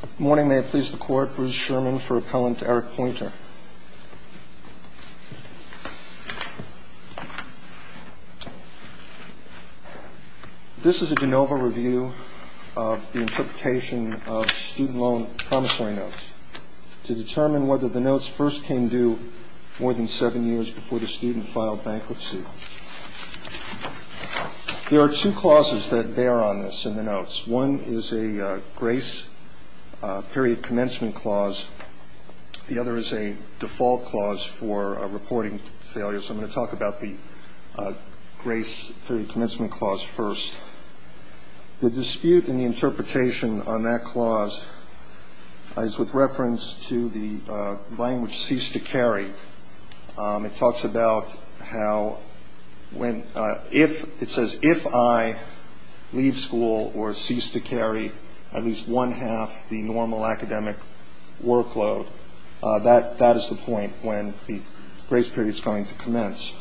Good morning. May I please the Court. Bruce Sherman for Appellant Eric Poynter. This is a de novo review of the interpretation of student loan promissory notes to determine whether the notes first came due more than seven years before the student filed bankruptcy. There are two clauses that bear on this in the notes. One is a grace period commencement clause. The other is a default clause for reporting failures. I'm going to talk about the grace period commencement clause first. The dispute in the interpretation on that clause is with reference to the language cease to carry. It talks about how when it says if I leave school or cease to carry at least one half the normal academic workload, that is the point when the grace period is going to commence.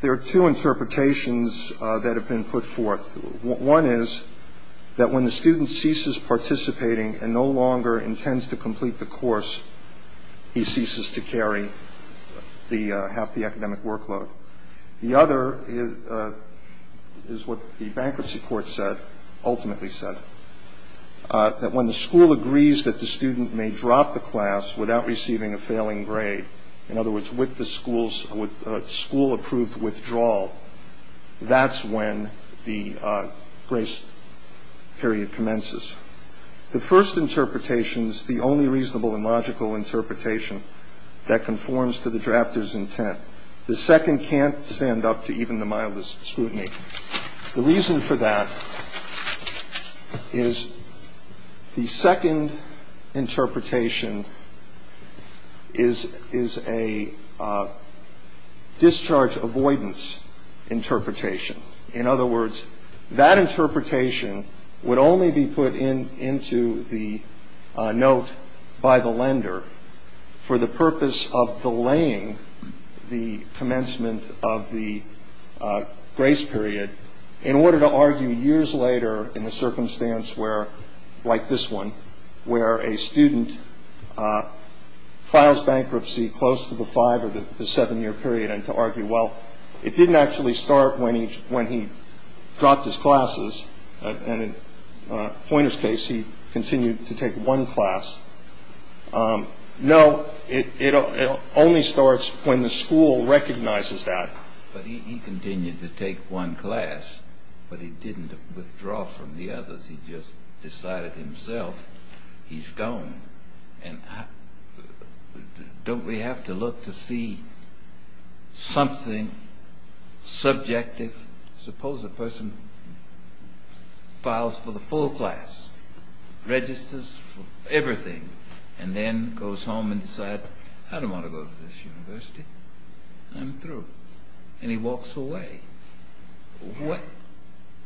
There are two interpretations that have been put forth. One is that when the student ceases participating and no longer intends to complete the course, he ceases to carry the half the academic workload. The other is what the bankruptcy court said, ultimately said, that when the school agrees that the student may drop the class without receiving a failing grade, in other words, with the school's school-approved withdrawal, that's when the grace period commences. The first interpretation is the only reasonable and logical interpretation that conforms to the drafter's intent. The second can't stand up to even the mildest scrutiny. The reason for that is the second interpretation is, is a discharge avoidance interpretation. In other words, that interpretation would only be put into the note by the lender for the purpose of delaying the commencement of the grace period in order to argue years later in a circumstance where, like this one, where a student files bankruptcy close to the five or the seven-year period and to argue, well, it didn't actually start when he dropped his classes. And in Poynter's case, he continued to take one class. No, it only starts when the school recognizes that. But he continued to take one class, but he didn't withdraw from the others. He just decided himself he's gone. And don't we have to look to see something subjective? Suppose a person files for the full class, registers for everything, and then goes home and decides, I don't want to go to this university. I'm through. And he walks away.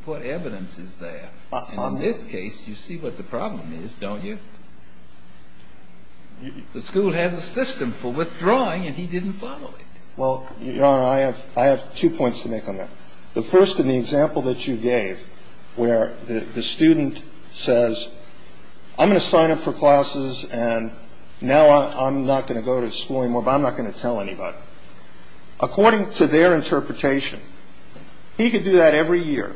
What evidence is there? In this case, you see what the problem is, don't you? The school has a system for withdrawing, and he didn't follow it. Well, Your Honor, I have two points to make on that. The first in the example that you gave where the student says, I'm going to sign up for classes, and now I'm not going to go to school anymore, but I'm not going to tell anybody. The second point is that the school has a system for withdrawing, and he didn't follow it. According to their interpretation, he could do that every year,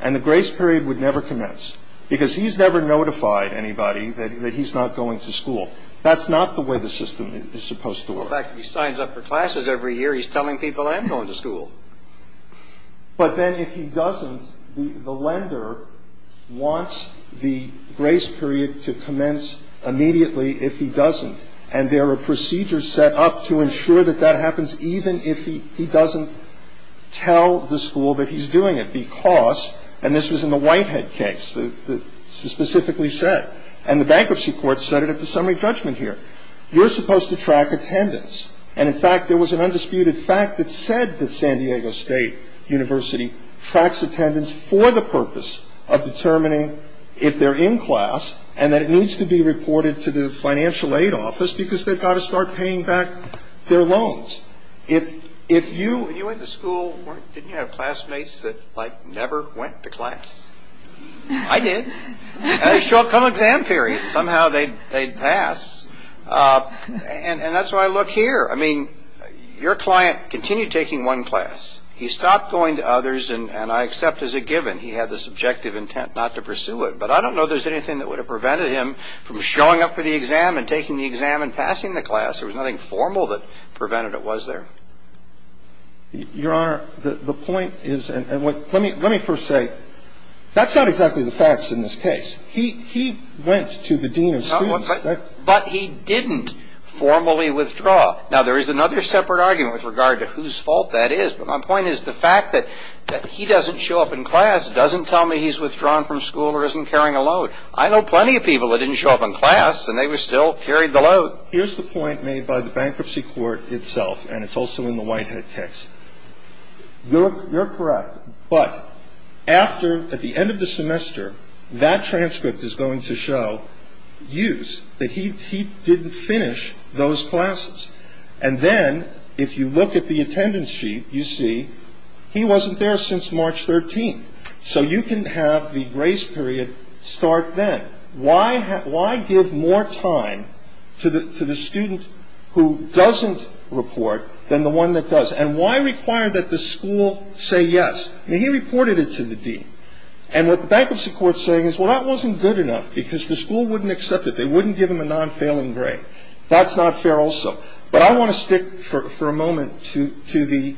and the grace period would never commence because he's never notified anybody that he's not going to school. That's not the way the system is supposed to work. In fact, he signs up for classes every year. He's telling people, I'm going to school. But then if he doesn't, the lender wants the grace period to commence immediately if he doesn't, and there are procedures set up to ensure that that happens even if he doesn't tell the school that he's doing it because, and this was in the Whitehead case that specifically said, and the bankruptcy court said it at the summary judgment here, you're supposed to track attendance. And in fact, there was an undisputed fact that said that San Diego State University tracks attendance for the purpose of determining if they're in class and that it needs to be reported to the financial aid office because they've got to start paying back their loans. If you went to school, didn't you have classmates that never went to class? I did. I had a short-term exam period. Somehow they'd pass. And that's why I look here. I mean, your client continued taking one class. He stopped going to others, and I accept as a given he had this objective intent not to pursue it. But I don't know if there's anything that would have prevented him from showing up for the exam and taking the exam and passing the class. There was nothing formal that prevented it, was there? Your Honor, the point is, and let me first say, that's not exactly the facts in this case. He went to the dean of students. But he didn't formally withdraw. Now, there is another separate argument with regard to whose fault that is. But my point is the fact that he doesn't show up in class doesn't tell me he's withdrawn from school or isn't carrying a load. I know plenty of people that didn't show up in class, and they still carried the load. Here's the point made by the bankruptcy court itself, and it's also in the Whitehead case. You're correct. But after, at the end of the semester, that transcript is going to show use, that he didn't finish those classes. And then if you look at the attendance sheet, you see he wasn't there since March 13th. So you can have the grace period start then. Why give more time to the student who doesn't report than the one that does? And why require that the school say yes? I mean, he reported it to the dean. And what the bankruptcy court is saying is, well, that wasn't good enough, because the school wouldn't accept it. They wouldn't give him a non-failing grade. That's not fair also. But I want to stick for a moment to the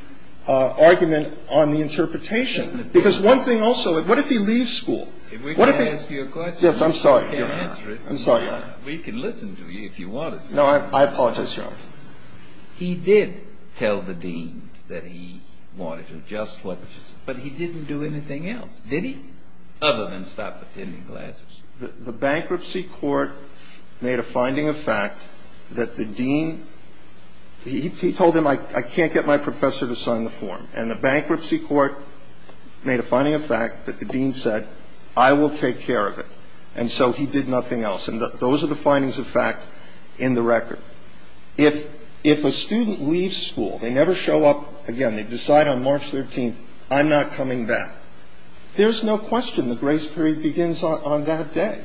argument on the interpretation. Because one thing also, what if he leaves school? What if he -- If we can ask you a question. Yes, I'm sorry, Your Honor. I'm sorry, Your Honor. We can listen to you if you want us to. No, I apologize, Your Honor. He did tell the dean that he wanted to adjust what was -- but he didn't do anything else, did he? Other than stop attending classes. The bankruptcy court made a finding of fact that the dean -- he told him I can't get my professor to sign the form. And the bankruptcy court made a finding of fact that the dean said, I will take care of it. And so he did nothing else. And those are the findings of fact in the record. If a student leaves school, they never show up again. They decide on March 13th, I'm not coming back. There's no question the grace period begins on that day.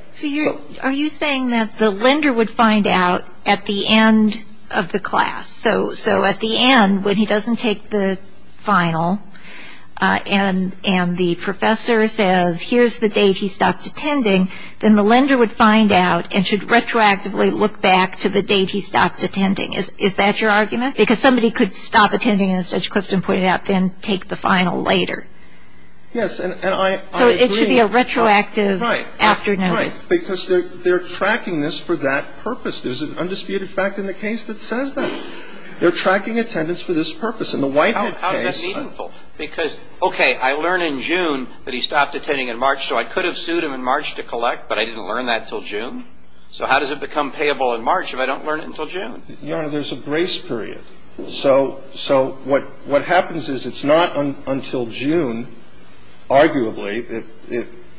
Are you saying that the lender would find out at the end of the class? So at the end, when he doesn't take the final and the professor says, here's the date he stopped attending, then the lender would find out and should retroactively look back to the date he stopped attending. Is that your argument? Because somebody could stop attending, as Judge Clifton pointed out, then take the final later. Yes. And I agree. So it should be a retroactive after notice. Right. Because they're tracking this for that purpose. There's an undisputed fact in the case that says that. They're tracking attendance for this purpose. In the Whitehead case -- How is that meaningful? Because, okay, I learn in June that he stopped attending in March, so I could have sued him in March to collect, but I didn't learn that until June. So how does it become payable in March if I don't learn it until June? Your Honor, there's a grace period. So what happens is it's not until June, arguably.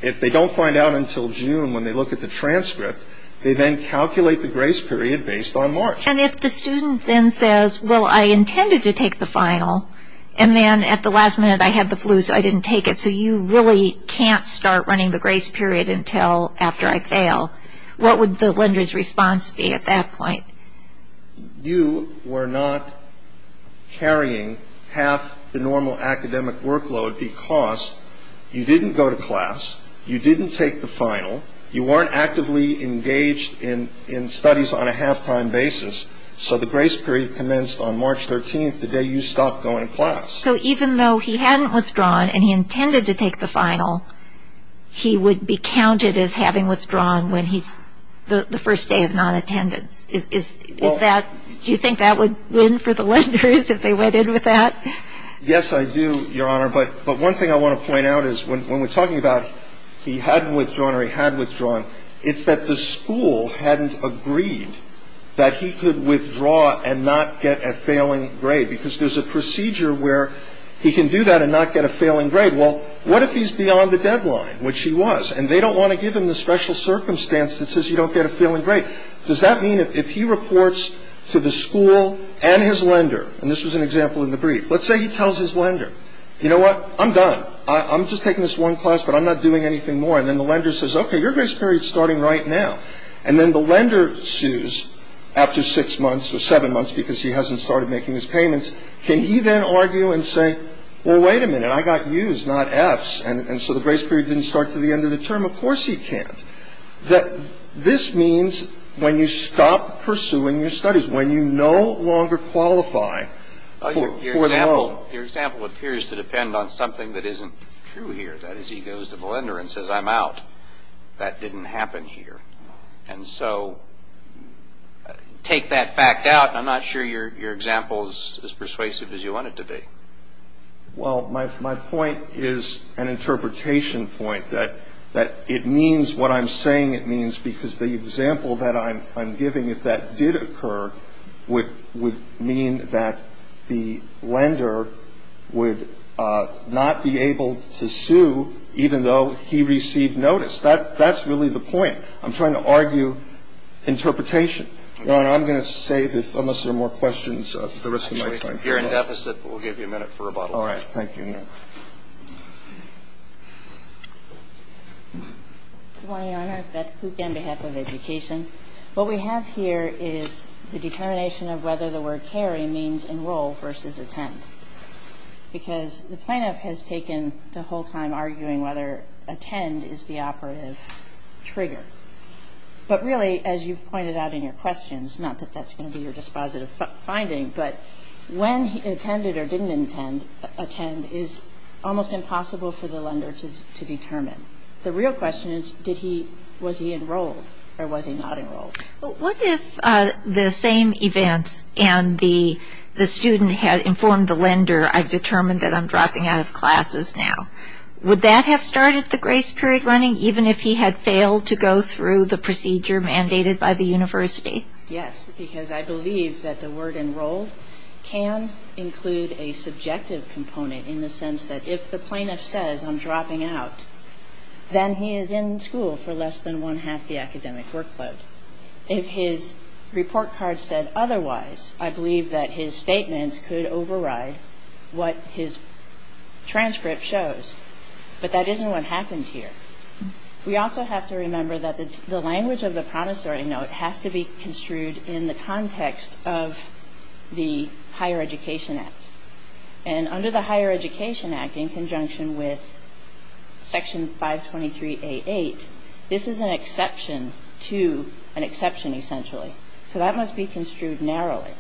If they don't find out until June when they look at the transcript, they then calculate the grace period based on March. And if the student then says, well, I intended to take the final, and then at the last minute I had the flu, so I didn't take it, so you really can't start running the grace period until after I fail, what would the lender's response be at that point? You were not carrying half the normal academic workload because you didn't go to class, you didn't take the final, you weren't actively engaged in studies on a half-time basis, so the grace period commenced on March 13th, the day you stopped going to class. So even though he hadn't withdrawn and he intended to take the final, he would be counted as having withdrawn the first day of non-attendance. Do you think that would win for the lenders if they went in with that? Yes, I do, Your Honor. But one thing I want to point out is when we're talking about he hadn't withdrawn or he had withdrawn, it's that the school hadn't agreed that he could withdraw and not get a failing grade because there's a procedure where he can do that and not get a failing grade. Well, what if he's beyond the deadline, which he was, and they don't want to give him the special circumstance that says you don't get a failing grade? Does that mean if he reports to the school and his lender, and this was an example in the brief, let's say he tells his lender, you know what? I'm done. I'm just taking this one class, but I'm not doing anything more. And then the lender says, okay, your grace period is starting right now. And then the lender sues after six months or seven months because he hasn't started making his payments. Can he then argue and say, well, wait a minute, I got U's, not F's, and so the grace period didn't start until the end of the term? Of course he can't. This means when you stop pursuing your studies, that is, when you no longer qualify for the loan. Your example appears to depend on something that isn't true here. That is, he goes to the lender and says, I'm out. That didn't happen here. And so take that fact out, and I'm not sure your example is as persuasive as you want it to be. Well, my point is an interpretation point, that it means what I'm saying it means because the example that I'm giving, if that did occur, would mean that the lender would not be able to sue even though he received notice. That's really the point. I'm trying to argue interpretation. Your Honor, I'm going to save, unless there are more questions, the rest of my time. Actually, you're in deficit, but we'll give you a minute for rebuttal. Thank you, Your Honor. Good morning, Your Honor. Beth Kluge on behalf of Education. What we have here is the determination of whether the word carry means enroll versus attend because the plaintiff has taken the whole time arguing whether attend is the operative trigger. But really, as you've pointed out in your questions, not that that's going to be your dispositive finding, but when attended or didn't attend is almost impossible for the lender to determine. The real question is, was he enrolled or was he not enrolled? What if the same events and the student had informed the lender, I've determined that I'm dropping out of classes now. Would that have started the grace period running, even if he had failed to go through the procedure mandated by the university? Yes, because I believe that the word enrolled can include a subjective component in the sense that if the plaintiff says I'm dropping out, then he is in school for less than one-half the academic workload. If his report card said otherwise, I believe that his statements could override what his transcript shows. But that isn't what happened here. We also have to remember that the language of the promissory note has to be construed in the context of the Higher Education Act. And under the Higher Education Act, in conjunction with Section 523A8, this is an exception to an exception, essentially. So that must be construed narrowly.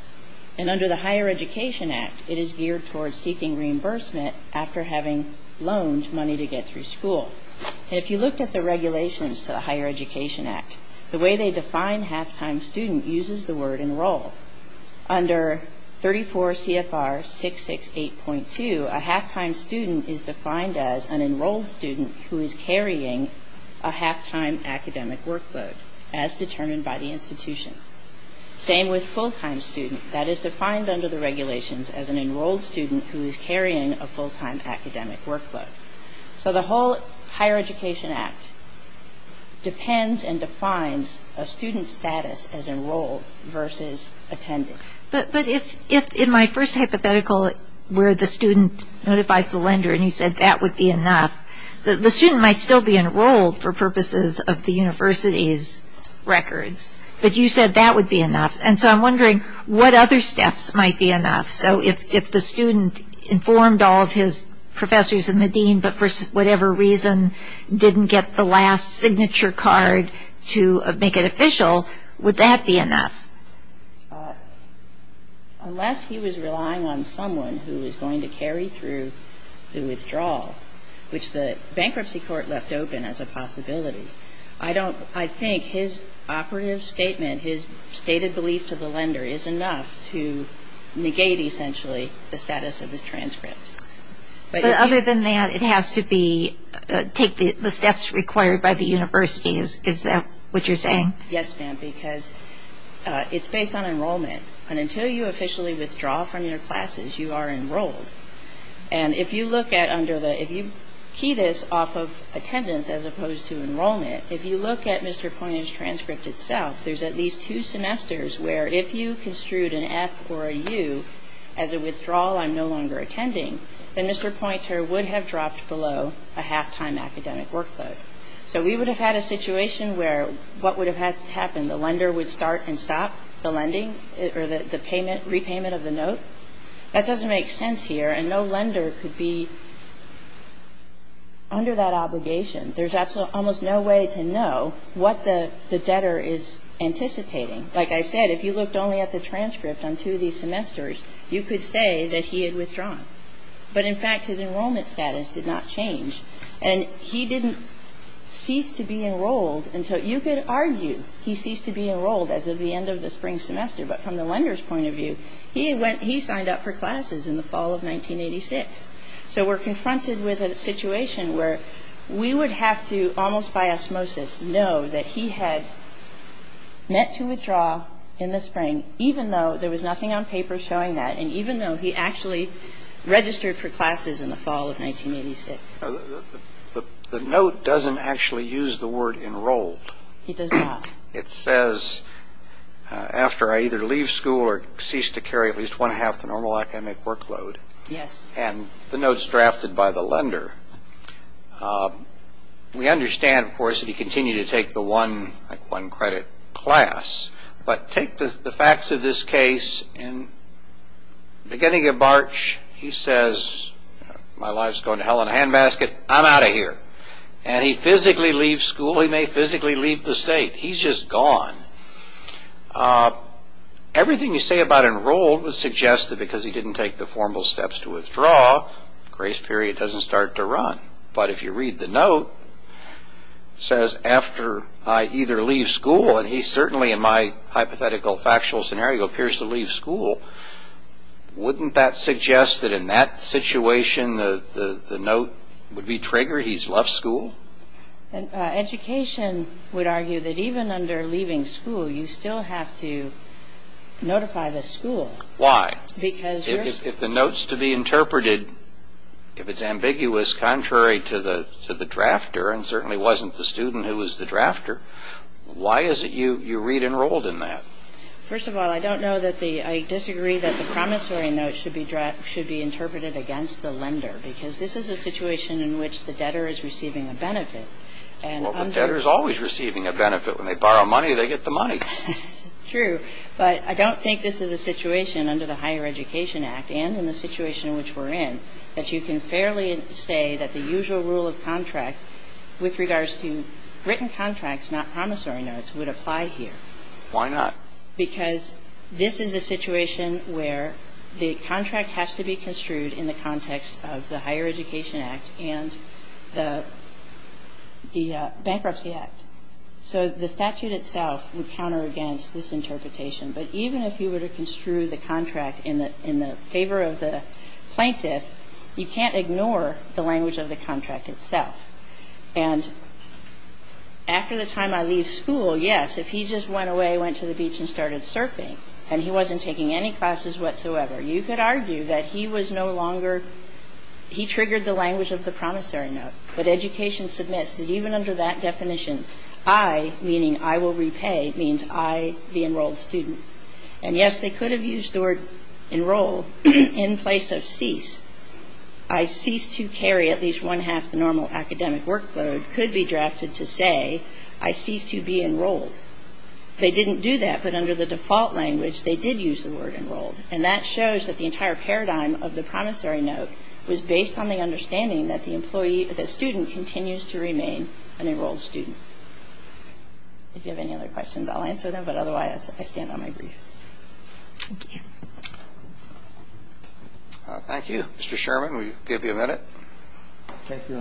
And under the Higher Education Act, it is geared towards seeking reimbursement after having loaned money to get through school. And if you looked at the regulations to the Higher Education Act, the way they define half-time student uses the word enrolled. Under 34 CFR 668.2, a half-time student is defined as an enrolled student who is carrying a half-time academic workload, as determined by the institution. Same with full-time student. That is defined under the regulations as an enrolled student who is carrying a full-time academic workload. So the whole Higher Education Act depends and defines a student's status as enrolled versus attended. But if in my first hypothetical where the student notifies the lender and you said that would be enough, the student might still be enrolled for purposes of the university's records. But you said that would be enough. And so I'm wondering what other steps might be enough. So if the student informed all of his professors and the dean but for whatever reason didn't get the last signature card to make it official, would that be enough? Unless he was relying on someone who was going to carry through the withdrawal, which the bankruptcy court left open as a possibility, I think his operative statement, his stated belief to the lender, is enough to negate essentially the status of his transcript. But other than that, it has to take the steps required by the university. Is that what you're saying? Yes, ma'am, because it's based on enrollment. And until you officially withdraw from your classes, you are enrolled. And if you key this off of attendance as opposed to enrollment, if you look at Mr. Poynter's transcript itself, there's at least two semesters where if you construed an F or a U as a withdrawal I'm no longer attending, then Mr. Poynter would have dropped below a half-time academic workload. So we would have had a situation where what would have happened? The lender would start and stop the lending or the payment, repayment of the note? That doesn't make sense here. And no lender could be under that obligation. There's almost no way to know what the debtor is anticipating. Like I said, if you looked only at the transcript on two of these semesters, you could say that he had withdrawn. But in fact, his enrollment status did not change. And he didn't cease to be enrolled until you could argue he ceased to be enrolled as of the end of the spring semester. But from the lender's point of view, he signed up for classes in the fall of 1986. So we're confronted with a situation where we would have to, almost by osmosis, know that he had meant to withdraw in the spring, even though there was nothing on paper showing that, and even though he actually registered for classes in the fall of 1986. The note doesn't actually use the word enrolled. It does not. It says, after I either leave school or cease to carry at least one-half the normal academic workload. Yes. And the note's drafted by the lender. We understand, of course, that he continued to take the one-credit class. But take the facts of this case. In the beginning of March, he says, my life's going to hell in a handbasket. I'm out of here. And he physically leaves school. He may physically leave the state. He's just gone. Everything you say about enrolled would suggest that because he didn't take the formal steps to withdraw, grace period doesn't start to run. But if you read the note, it says, after I either leave school, and he certainly in my hypothetical factual scenario appears to leave school, wouldn't that suggest that in that situation the note would be triggered? He's left school? Education would argue that even under leaving school, you still have to notify the school. Why? Because you're stuck. If the note's to be interpreted, if it's ambiguous contrary to the drafter and certainly wasn't the student who was the drafter, why is it you read enrolled in that? First of all, I don't know that the ‑‑ I disagree that the promissory note should be interpreted against the lender because this is a situation in which the debtor is receiving a benefit. Well, the debtor's always receiving a benefit. When they borrow money, they get the money. True. But I don't think this is a situation under the Higher Education Act and in the situation in which we're in that you can fairly say that the usual rule of contract with regards to written contracts, not promissory notes, would apply here. Why not? Because this is a situation where the contract has to be construed in the context of the Higher Education Act and the Bankruptcy Act. So the statute itself would counter against this interpretation. But even if you were to construe the contract in the favor of the plaintiff, you can't ignore the language of the contract itself. And after the time I leave school, yes, if he just went away, went to the beach and started surfing and he wasn't taking any classes whatsoever, you could argue that he was no longer ‑‑ he triggered the language of the promissory note. But education submits that even under that definition, I, meaning I will repay, means I, the enrolled student. And yes, they could have used the word enroll in place of cease. I cease to carry at least one half the normal academic workload could be drafted to say, I cease to be enrolled. They didn't do that, but under the default language, they did use the word enrolled. And that shows that the entire paradigm of the promissory note was based on the understanding that the student continues to remain an enrolled student. If you have any other questions, I'll answer them, but otherwise I stand on my brief. Thank you. Thank you. Mr. Sherman, will you give me a minute? Thank you.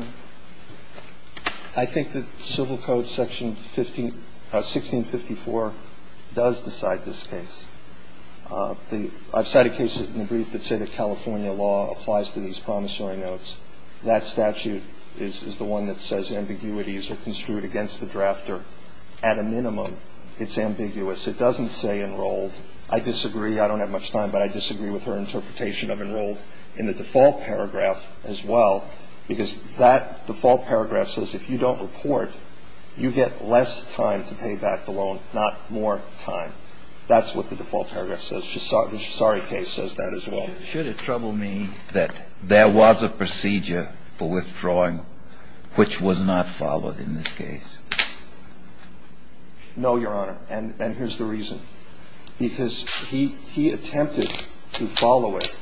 I think that Civil Code Section 1654 does decide this case. I've cited cases in the brief that say that California law applies to these promissory notes. That statute is the one that says ambiguities are construed against the drafter. At a minimum, it's ambiguous. It doesn't say enrolled. I disagree. I don't have much time, but I disagree with her interpretation of enrolled in the default paragraph as well, because that default paragraph says if you don't report, you get less time to pay back the loan, not more time. That's what the default paragraph says. The Shisari case says that as well. Should it trouble me that there was a procedure for withdrawing which was not followed in this case? No, Your Honor, and here's the reason. Because he attempted to follow it,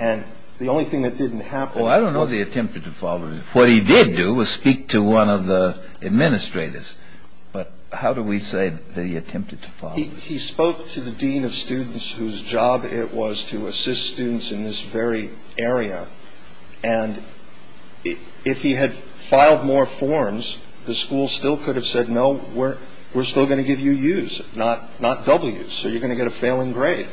and the only thing that didn't happen was he attempted to follow it. What he did do was speak to one of the administrators. But how do we say that he attempted to follow it? He spoke to the dean of students whose job it was to assist students in this very area. And if he had filed more forms, the school still could have said, no, we're still going to give you U's, not W's. So you're going to get a failing grade.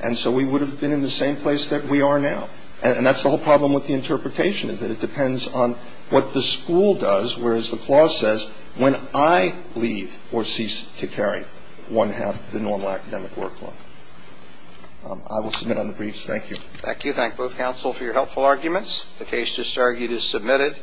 And so we would have been in the same place that we are now. And that's the whole problem with the interpretation, is that it depends on what the school does, whereas the clause says when I leave or cease to carry one half of the normal academic workload. I will submit on the briefs. Thank you. Thank you. Thank both counsel for your helpful arguments. The case just argued is submitted.